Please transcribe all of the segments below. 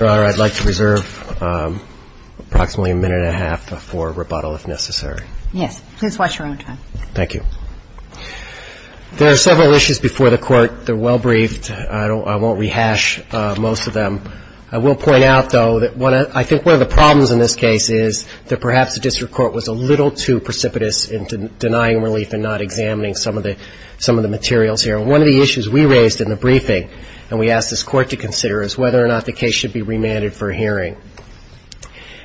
I'd like to reserve approximately a minute and a half for rebuttal if necessary. Yes. Please watch your own time. Thank you. There are several issues before the Court. They're well briefed. I won't rehash most of them. I will point out, though, that I think one of the problems in this case is that perhaps the district court was a little too precipitous in denying relief and not examining some of the materials here. One of the issues we raised in the briefing, and we asked this Court to consider, is whether or not the case should be remanded for hearing.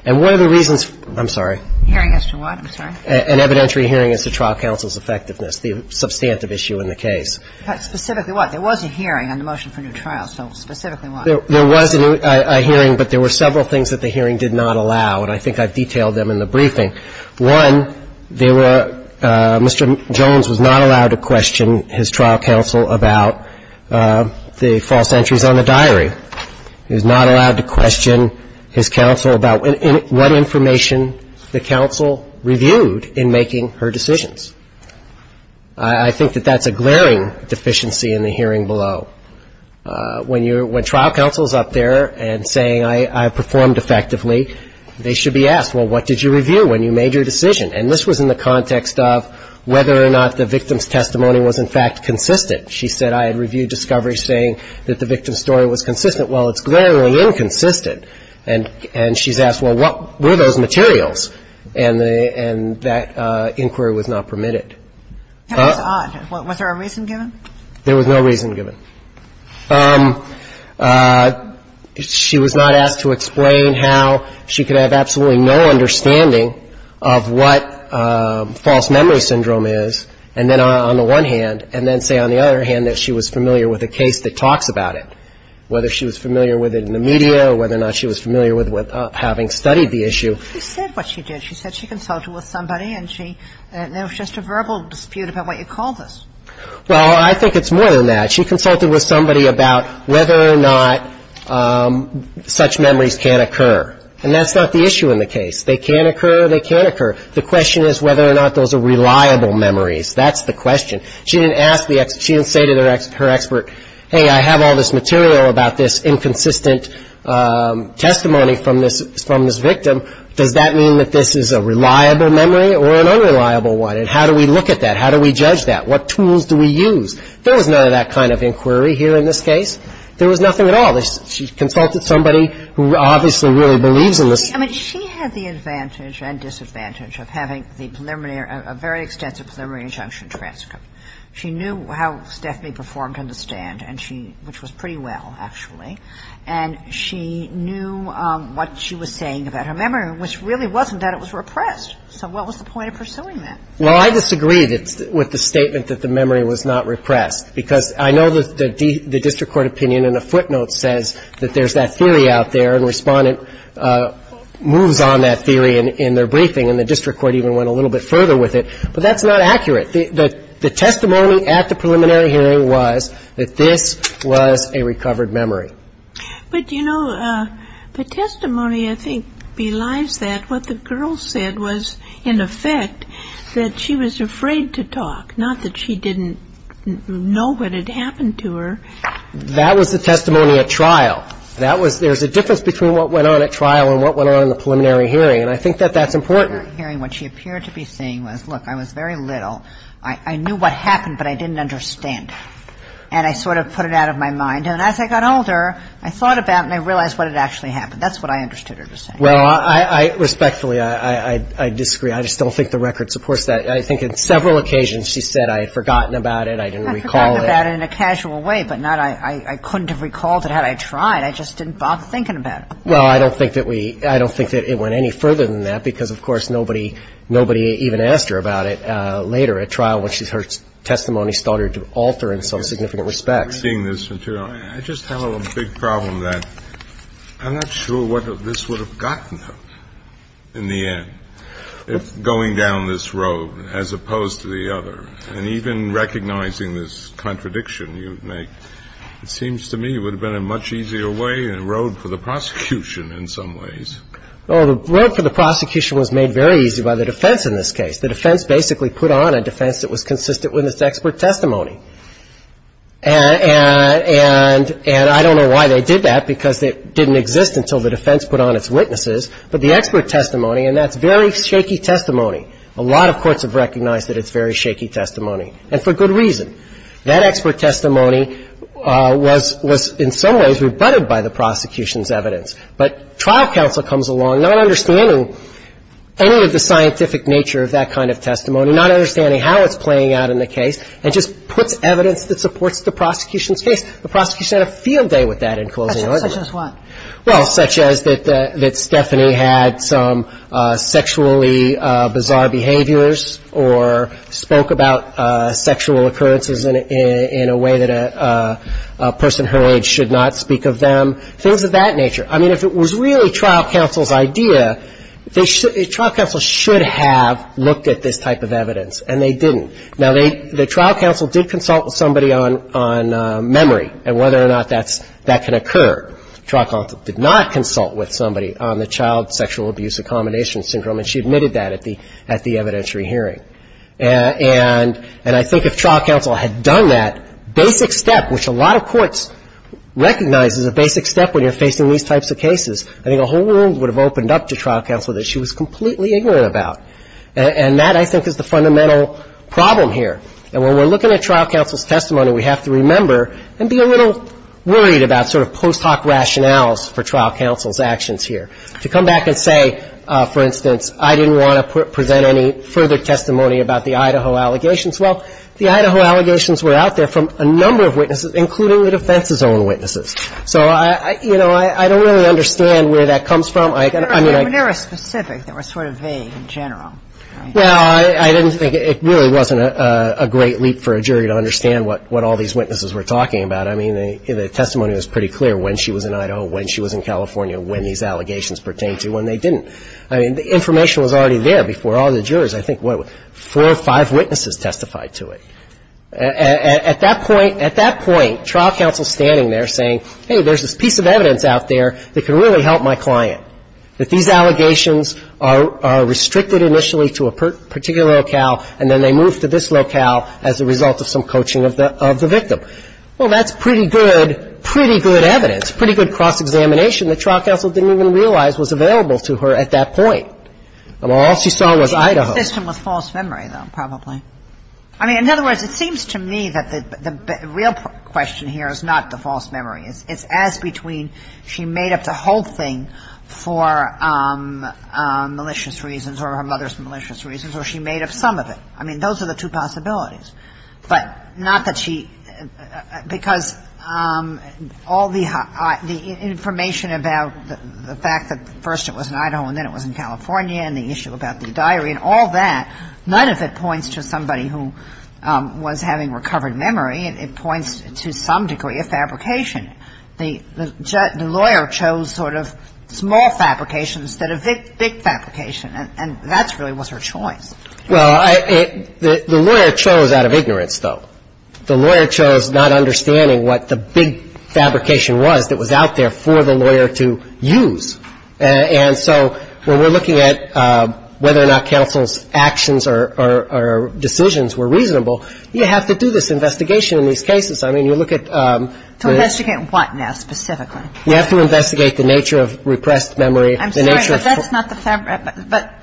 And one of the reasons I'm sorry. Hearing as to what? I'm sorry. An evidentiary hearing as to trial counsel's effectiveness, the substantive issue in the case. Specifically what? There was a hearing on the motion for a new trial, so specifically what? There was a hearing, but there were several things that the hearing did not allow, and I think I've detailed them in the briefing. One, they were Mr. Jones was not allowed to question his trial counsel about the false entries on the diary. He was not allowed to question his counsel about what information the counsel reviewed in making her decisions. I think that that's a glaring deficiency in the hearing below. When trial counsel is up there and saying I performed effectively, they should be asked, well, what did you review when you made your decision? And this was in the context of whether or not the victim's testimony was, in fact, consistent. She said I had reviewed discovery saying that the victim's story was consistent. Well, it's glaringly inconsistent. And she's asked, well, what were those materials? And that inquiry was not permitted. That was odd. Was there a reason given? There was no reason given. She was not asked to explain how she could have absolutely no understanding of what false memory syndrome is, and then on the one hand, and then say on the other hand that she was familiar with a case that talks about it, whether she was familiar with it in the media or whether or not she was familiar with having studied the issue. She said what she did. She said she consulted with somebody, and there was just a verbal dispute about what you called it. Well, I think it's more than that. She consulted with somebody about whether or not such memories can occur. And that's not the issue in the case. They can occur, they can occur. The question is whether or not those are reliable memories. That's the question. She didn't say to her expert, hey, I have all this material about this inconsistent testimony from this victim. Does that mean that this is a reliable memory or an unreliable one? And how do we look at that? How do we judge that? What tools do we use? There was none of that kind of inquiry here in this case. There was nothing at all. She consulted somebody who obviously really believes in this. I mean, she had the advantage and disadvantage of having the preliminary or a very extensive preliminary injunction transcript. She knew how Stephanie performed on which was pretty well, actually. And she knew what she was saying about her memory, which really wasn't that it was repressed. So what was the point of pursuing that? Well, I disagree with the statement that the memory was not repressed, because I know the district court opinion in a footnote says that there's that theory out there, and Respondent moves on that theory in their briefing, and the district court even went a little bit further with it. But that's not accurate. The testimony at the preliminary hearing was that this was a recovered memory. But, you know, the testimony, I think, belies that. What the girl said was, in effect, that she was afraid to talk, not that she didn't know what had happened to her. That was the testimony at trial. That was there's a difference between what went on at trial and what went on in the preliminary hearing, and I think that that's important. In the preliminary hearing, what she appeared to be saying was, look, I was very And I sort of put it out of my mind. And as I got older, I thought about it and I realized what had actually happened. That's what I understood her to say. Well, I respectfully, I disagree. I just don't think the record supports that. I think on several occasions she said, I had forgotten about it, I didn't recall it. I forgot about it in a casual way, but not I couldn't have recalled it had I tried. I just didn't bother thinking about it. Well, I don't think that we – I don't think that it went any further than that, because, of course, nobody even asked her about it later at trial when her testimony started to alter in some significant respects. In seeing this material, I just have a big problem that I'm not sure what this would have gotten her in the end, going down this road as opposed to the other. And even recognizing this contradiction you make, it seems to me it would have been a much easier way and a road for the prosecution in some ways. Well, the road for the prosecution was made very easy by the defense in this case. The defense basically put on a defense that was consistent with its expert testimony. And I don't know why they did that, because it didn't exist until the defense put on its witnesses. But the expert testimony, and that's very shaky testimony. A lot of courts have recognized that it's very shaky testimony, and for good reason. That expert testimony was in some ways rebutted by the prosecution's evidence. But trial counsel comes along, not understanding any of the scientific nature of that kind of testimony, not understanding how it's playing out in the case, and just puts evidence that supports the prosecution's case. The prosecution had a field day with that in closing argument. Such as what? Well, such as that Stephanie had some sexually bizarre behaviors or spoke about sexual occurrences in a way that a person her age should not speak of them, things of that nature. I mean, if it was really trial counsel's idea, trial counsel should have looked at this type of evidence, and they didn't. Now, the trial counsel did consult with somebody on memory and whether or not that can occur. Trial counsel did not consult with somebody on the child sexual abuse accommodation syndrome, and she admitted that at the evidentiary hearing. And I think if trial counsel had done that, basic step, which a lot of courts recognize as a basic step when you're facing these types of cases, I think a whole world would have opened up to trial counsel that she was completely ignorant about. And that, I think, is the fundamental problem here. And when we're looking at trial counsel's testimony, we have to remember and be a little worried about sort of post hoc rationales for trial counsel's actions here. To come back and say, for instance, I didn't want to present any further testimony about the Idaho allegations. Well, the Idaho allegations were out there from a number of witnesses, including the defense's own witnesses. So I, you know, I don't really understand where that comes from. I mean, I — You never specific. They were sort of vague in general. No, I didn't think it really wasn't a great leap for a jury to understand what all these witnesses were talking about. I mean, the testimony was pretty clear when she was in Idaho, when she was in California, when these allegations pertained to, when they didn't. I mean, the information was already there before all the jurors. I think, what, four or five witnesses testified to it. And at that point, at that point, trial counsel's standing there saying, hey, there's this piece of evidence out there that can really help my client, that these allegations are restricted initially to a particular locale, and then they move to this locale as a result of some coaching of the victim. Well, that's pretty good, pretty good evidence, pretty good cross-examination that trial counsel didn't even realize was available to her at that point. I mean, all she saw was Idaho. I think the system was false memory, though, probably. I mean, in other words, it seems to me that the real question here is not the false memory. It's as between she made up the whole thing for malicious reasons or her mother's malicious reasons, or she made up some of it. I mean, those are the two possibilities. But not that she, because all the information about the fact that first it was in Idaho and then it was in California and the issue about the diary and all that, none of it points to somebody who was having recovered memory. It points to some degree of fabrication. The lawyer chose sort of small fabrication instead of big fabrication, and that really was her choice. Well, the lawyer chose out of ignorance, though. The lawyer chose not understanding what the big fabrication was that was out there for the lawyer to use. And so when we're looking at whether or not counsel's actions or decisions were reasonable, you have to do this investigation in these cases. I mean, you look at the — To investigate what now, specifically? You have to investigate the nature of repressed memory, the nature of — I'm sorry, but that's not the — but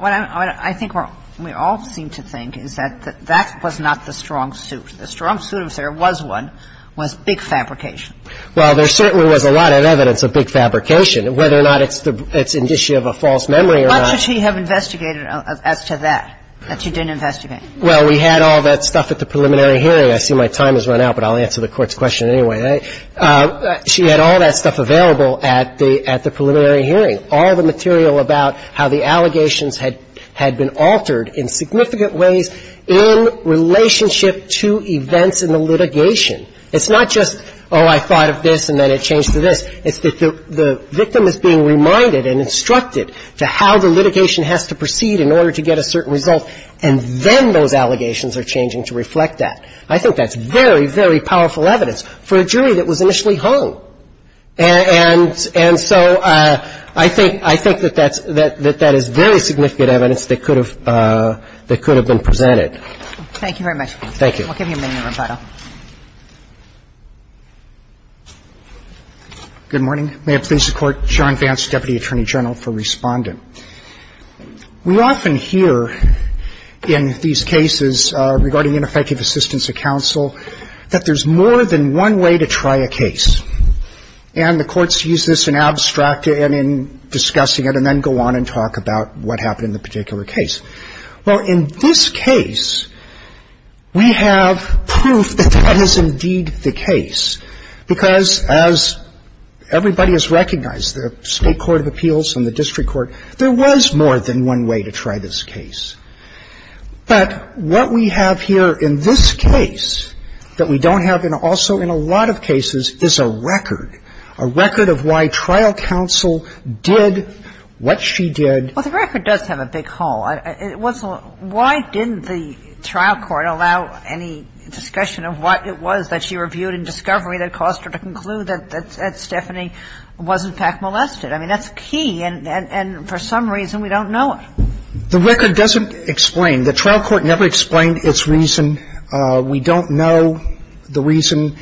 what I think we all seem to think is that that was not the strong suit. The strong suit, if there was one, was big fabrication. Well, there certainly was a lot of evidence of big fabrication. Whether or not it's an issue of a false memory or not — What should she have investigated as to that, that she didn't investigate? Well, we had all that stuff at the preliminary hearing. I see my time has run out, but I'll answer the Court's question anyway. She had all that stuff available at the preliminary hearing, all the material about how the allegations had been altered in significant ways in relationship to events in the litigation. It's not just, oh, I thought of this and then it changed to this. It's that the victim is being reminded and instructed to how the litigation has to proceed in order to get a certain result, and then those allegations are changing to reflect that. I think that's very, very powerful evidence for a jury that was initially hung. And so I think that that is very significant evidence that could have been presented. Thank you very much. Thank you. We'll give you a minute, Roberto. Good morning. May it please the Court. John Vance, Deputy Attorney General for Respondent. We often hear in these cases regarding ineffective assistance of counsel that there's more than one way to try a case. And the courts use this in abstract and in discussing it and then go on and talk about what happened in the particular case. Well, in this case, we have proof that that is indeed the case, because as everybody has recognized, the State Court of Appeals and the district court, there was more than one way to try this case. But what we have here in this case that we don't have in also in a lot of cases is a record, a record of why trial counsel did what she did. Well, the record does have a big hole. Why didn't the trial court allow any discussion of what it was that she reviewed in discovery that caused her to conclude that Stephanie was, in fact, molested? I mean, that's key. And for some reason, we don't know it. The record doesn't explain. The trial court never explained its reason. We don't know the reason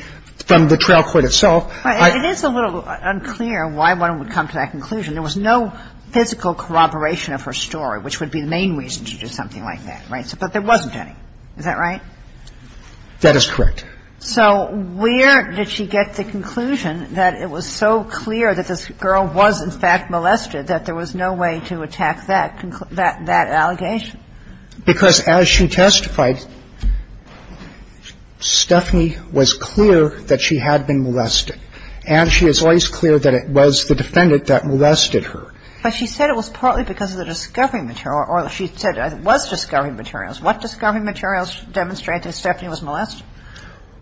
from the trial court itself. It is a little unclear why one would come to that conclusion. There was no physical corroboration of her story, which would be the main reason to do something like that, right? But there wasn't any. Is that right? That is correct. So where did she get the conclusion that it was so clear that this girl was, in fact, molested that there was no way to attack that allegation? Because as she testified, Stephanie was clear that she had been molested. And she is always clear that it was the defendant that molested her. But she said it was partly because of the discovery material, or she said it was discovery materials. What discovery materials demonstrate that Stephanie was molested?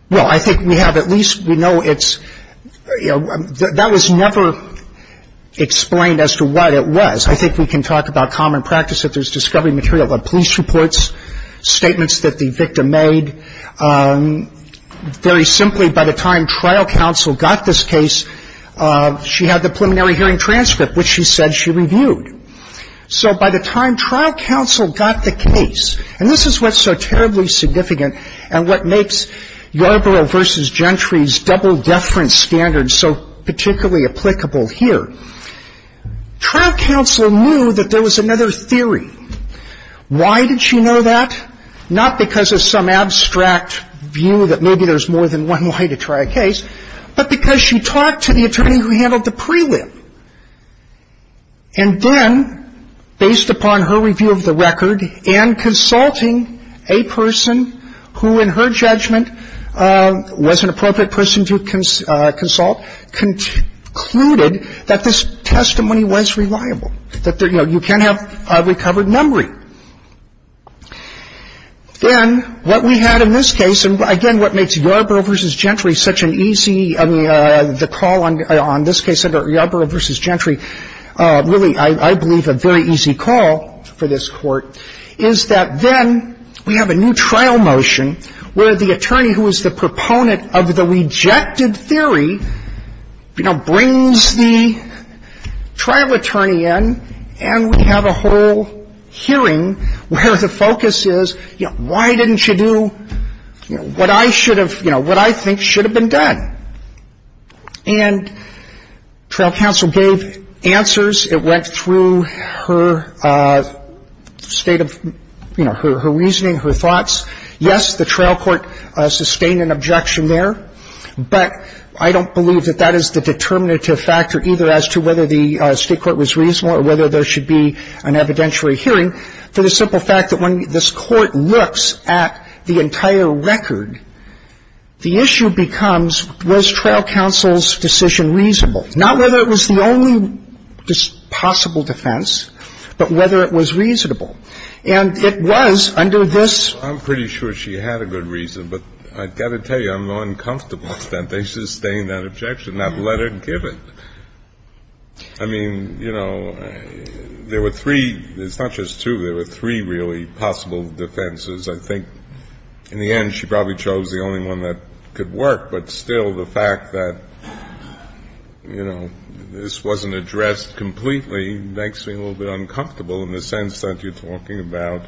Well, I think we have at least we know it's, you know, that was never explained as to what it was. I think we can talk about common practice if there's discovery material, like police reports, statements that the victim made. Very simply, by the time trial counsel got this case, she had the preliminary hearing transcript, which she said she reviewed. So by the time trial counsel got the case, and this is what's so terribly significant and what makes Yarborough v. Gentry's double-deference standard so particularly applicable here, trial counsel knew that there was another theory. Why did she know that? Not because of some abstract view that maybe there's more than one way to try a case, but because she talked to the attorney who handled the prelim. And then, based upon her review of the record and consulting a person who, in her judgment, was an appropriate person to consult, concluded that this testimony was reliable, that, you know, you can have recovered numbering. Then what we had in this case, and again, what makes Yarborough v. Gentry such an easy — I mean, the call on this case under Yarborough v. Gentry really, I believe, a very easy call for this Court, is that then we have a new trial motion where the attorney who is the proponent of the rejected theory, you know, brings the trial attorney in, and we have a whole hearing where the focus is, you know, why didn't you do, you know, what I should have, you know, what I think should have been done? And trial counsel gave answers. It went through her state of, you know, her reasoning, her thoughts. Yes, the trial court sustained an objection there, but I don't believe that that is the determinative factor either as to whether the state court was reasonable or whether there should be an evidentiary hearing, to the simple fact that when this Court looks at the entire record, the issue becomes, was trial counsel's decision reasonable? Not whether it was the only possible defense, but whether it was reasonable. And it was under this — I mean, you know, there were three — it's not just two. There were three, really, possible defenses. I think in the end, she probably chose the only one that could work, but still the fact that, you know, this wasn't addressed completely makes me a little bit uncomfortable in the sense that you're talking about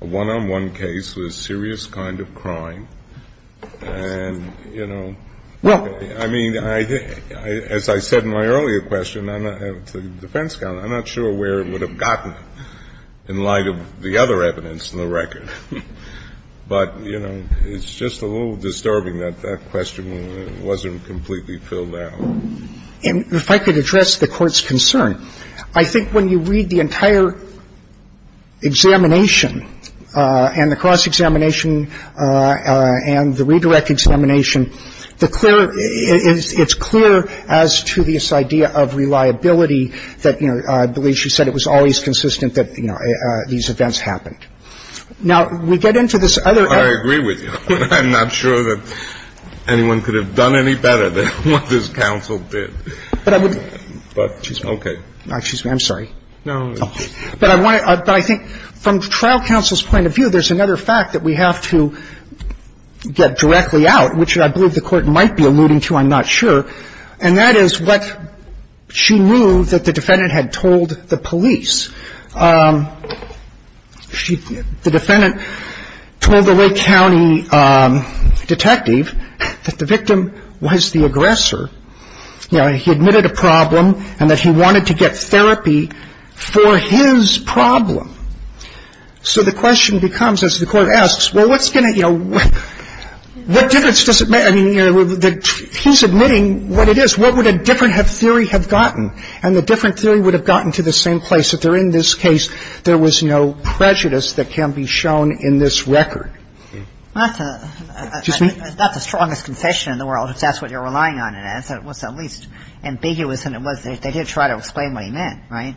a one-on-one case with a serious kind of crime, and, you know. I mean, as I said in my earlier question, I'm not — to the defense counsel, I'm not sure where it would have gotten in light of the other evidence in the record. But, you know, it's just a little disturbing that that question wasn't completely filled out. And if I could address the Court's concern, I think when you read the entire examination and the cross-examination and the redirect examination, the clear — it's clear as to this idea of reliability that, you know, I believe she said it was always consistent that, you know, these events happened. Now, we get into this other — I agree with you. I'm not sure that anyone could have done any better than what this counsel did. But I would — Okay. Excuse me. I'm sorry. No. But I think from trial counsel's point of view, there's another fact that we have to get directly out, which I believe the Court might be alluding to. I'm not sure. And that is what she knew that the defendant had told the police. The defendant told the Lake County detective that the victim was the aggressor. And the defendant told the Lake County detective that the victim was the aggressor. And the defendant told the Lake County detective that the victim was the aggressor. You know, he admitted a problem and that he wanted to get therapy for his problem. So the question becomes, as the Court asks, well, what's going to — you know, what difference does it make? And the defendant was right. And the defendant said, well, it was at least ambiguous and it was — they did try to explain what he meant, right?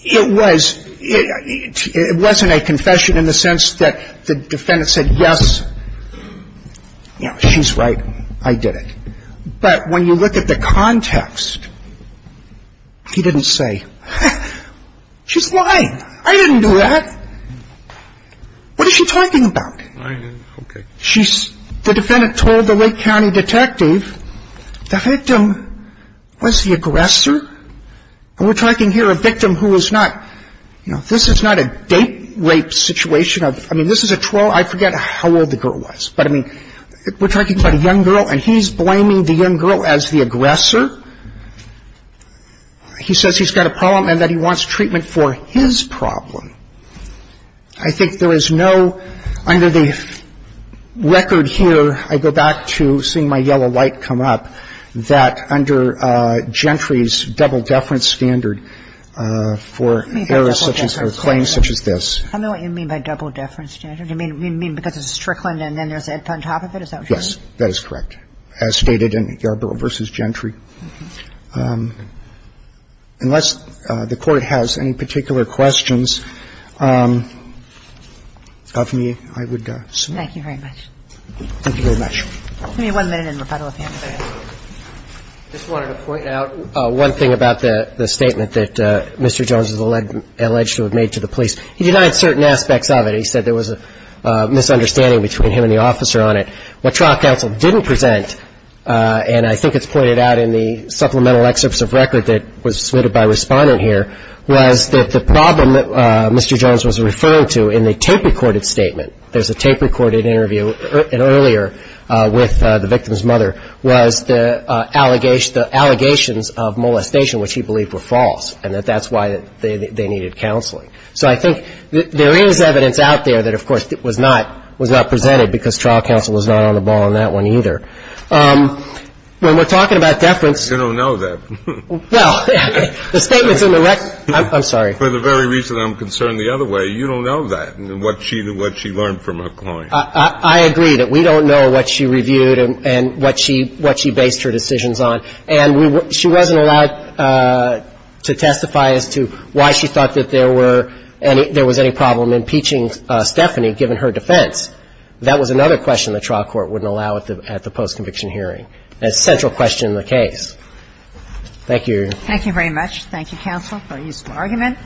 It was — it wasn't a confession in the sense that the defendant said, yes, you know, she's right, I did it. The victim was the aggressor. And we're talking here a victim who is not — you know, this is not a date rape situation. I mean, this is a 12 — I forget how old the girl was. But, I mean, we're talking about a young girl and he's blaming the young girl as the aggressor. He says he's got a problem and that he wants treatment for his problem. I think there is no — under the record here, I go back to seeing my yellow light come up, that under Gentry's double deference standard for errors such as — or claims such as this. I know what you mean by double deference standard. You mean because it's Strickland and then there's on top of it? Is that what you're saying? So I don't know that it's a double deference standard. Unless the Court has any particular questions of me, I would submit. Thank you very much. Thank you very much. Give me one minute in rebuttal if you have any. I just wanted to point out one thing about the statement that Mr. Jones has alleged to have made to the police. He denied certain aspects of it. He said there was a misunderstanding between him and the officer on it. What trial counsel didn't present, and I think it's pointed out in the supplemental excerpts of record that was submitted by a respondent here, was that the problem that Mr. Jones was referring to in the tape-recorded statement, there's a tape-recorded interview earlier with the victim's mother, was the allegations of molestation, which he believed were false, and that that's why they needed counseling. So I think there is evidence out there that, of course, it was not presented because trial counsel was not on the ball on that one either. When we're talking about deference ---- You don't know that. Well, the statements in the record ---- I'm sorry. For the very reason I'm concerned the other way, you don't know that and what she learned from her client. I agree that we don't know what she reviewed and what she based her decisions on. And she wasn't allowed to testify as to why she thought that there were any ---- there was any problem impeaching Stephanie given her defense. That was another question the trial court wouldn't allow at the post-conviction hearing. That's a central question in the case. Thank you. Thank you very much. Thank you, counsel, for your useful argument.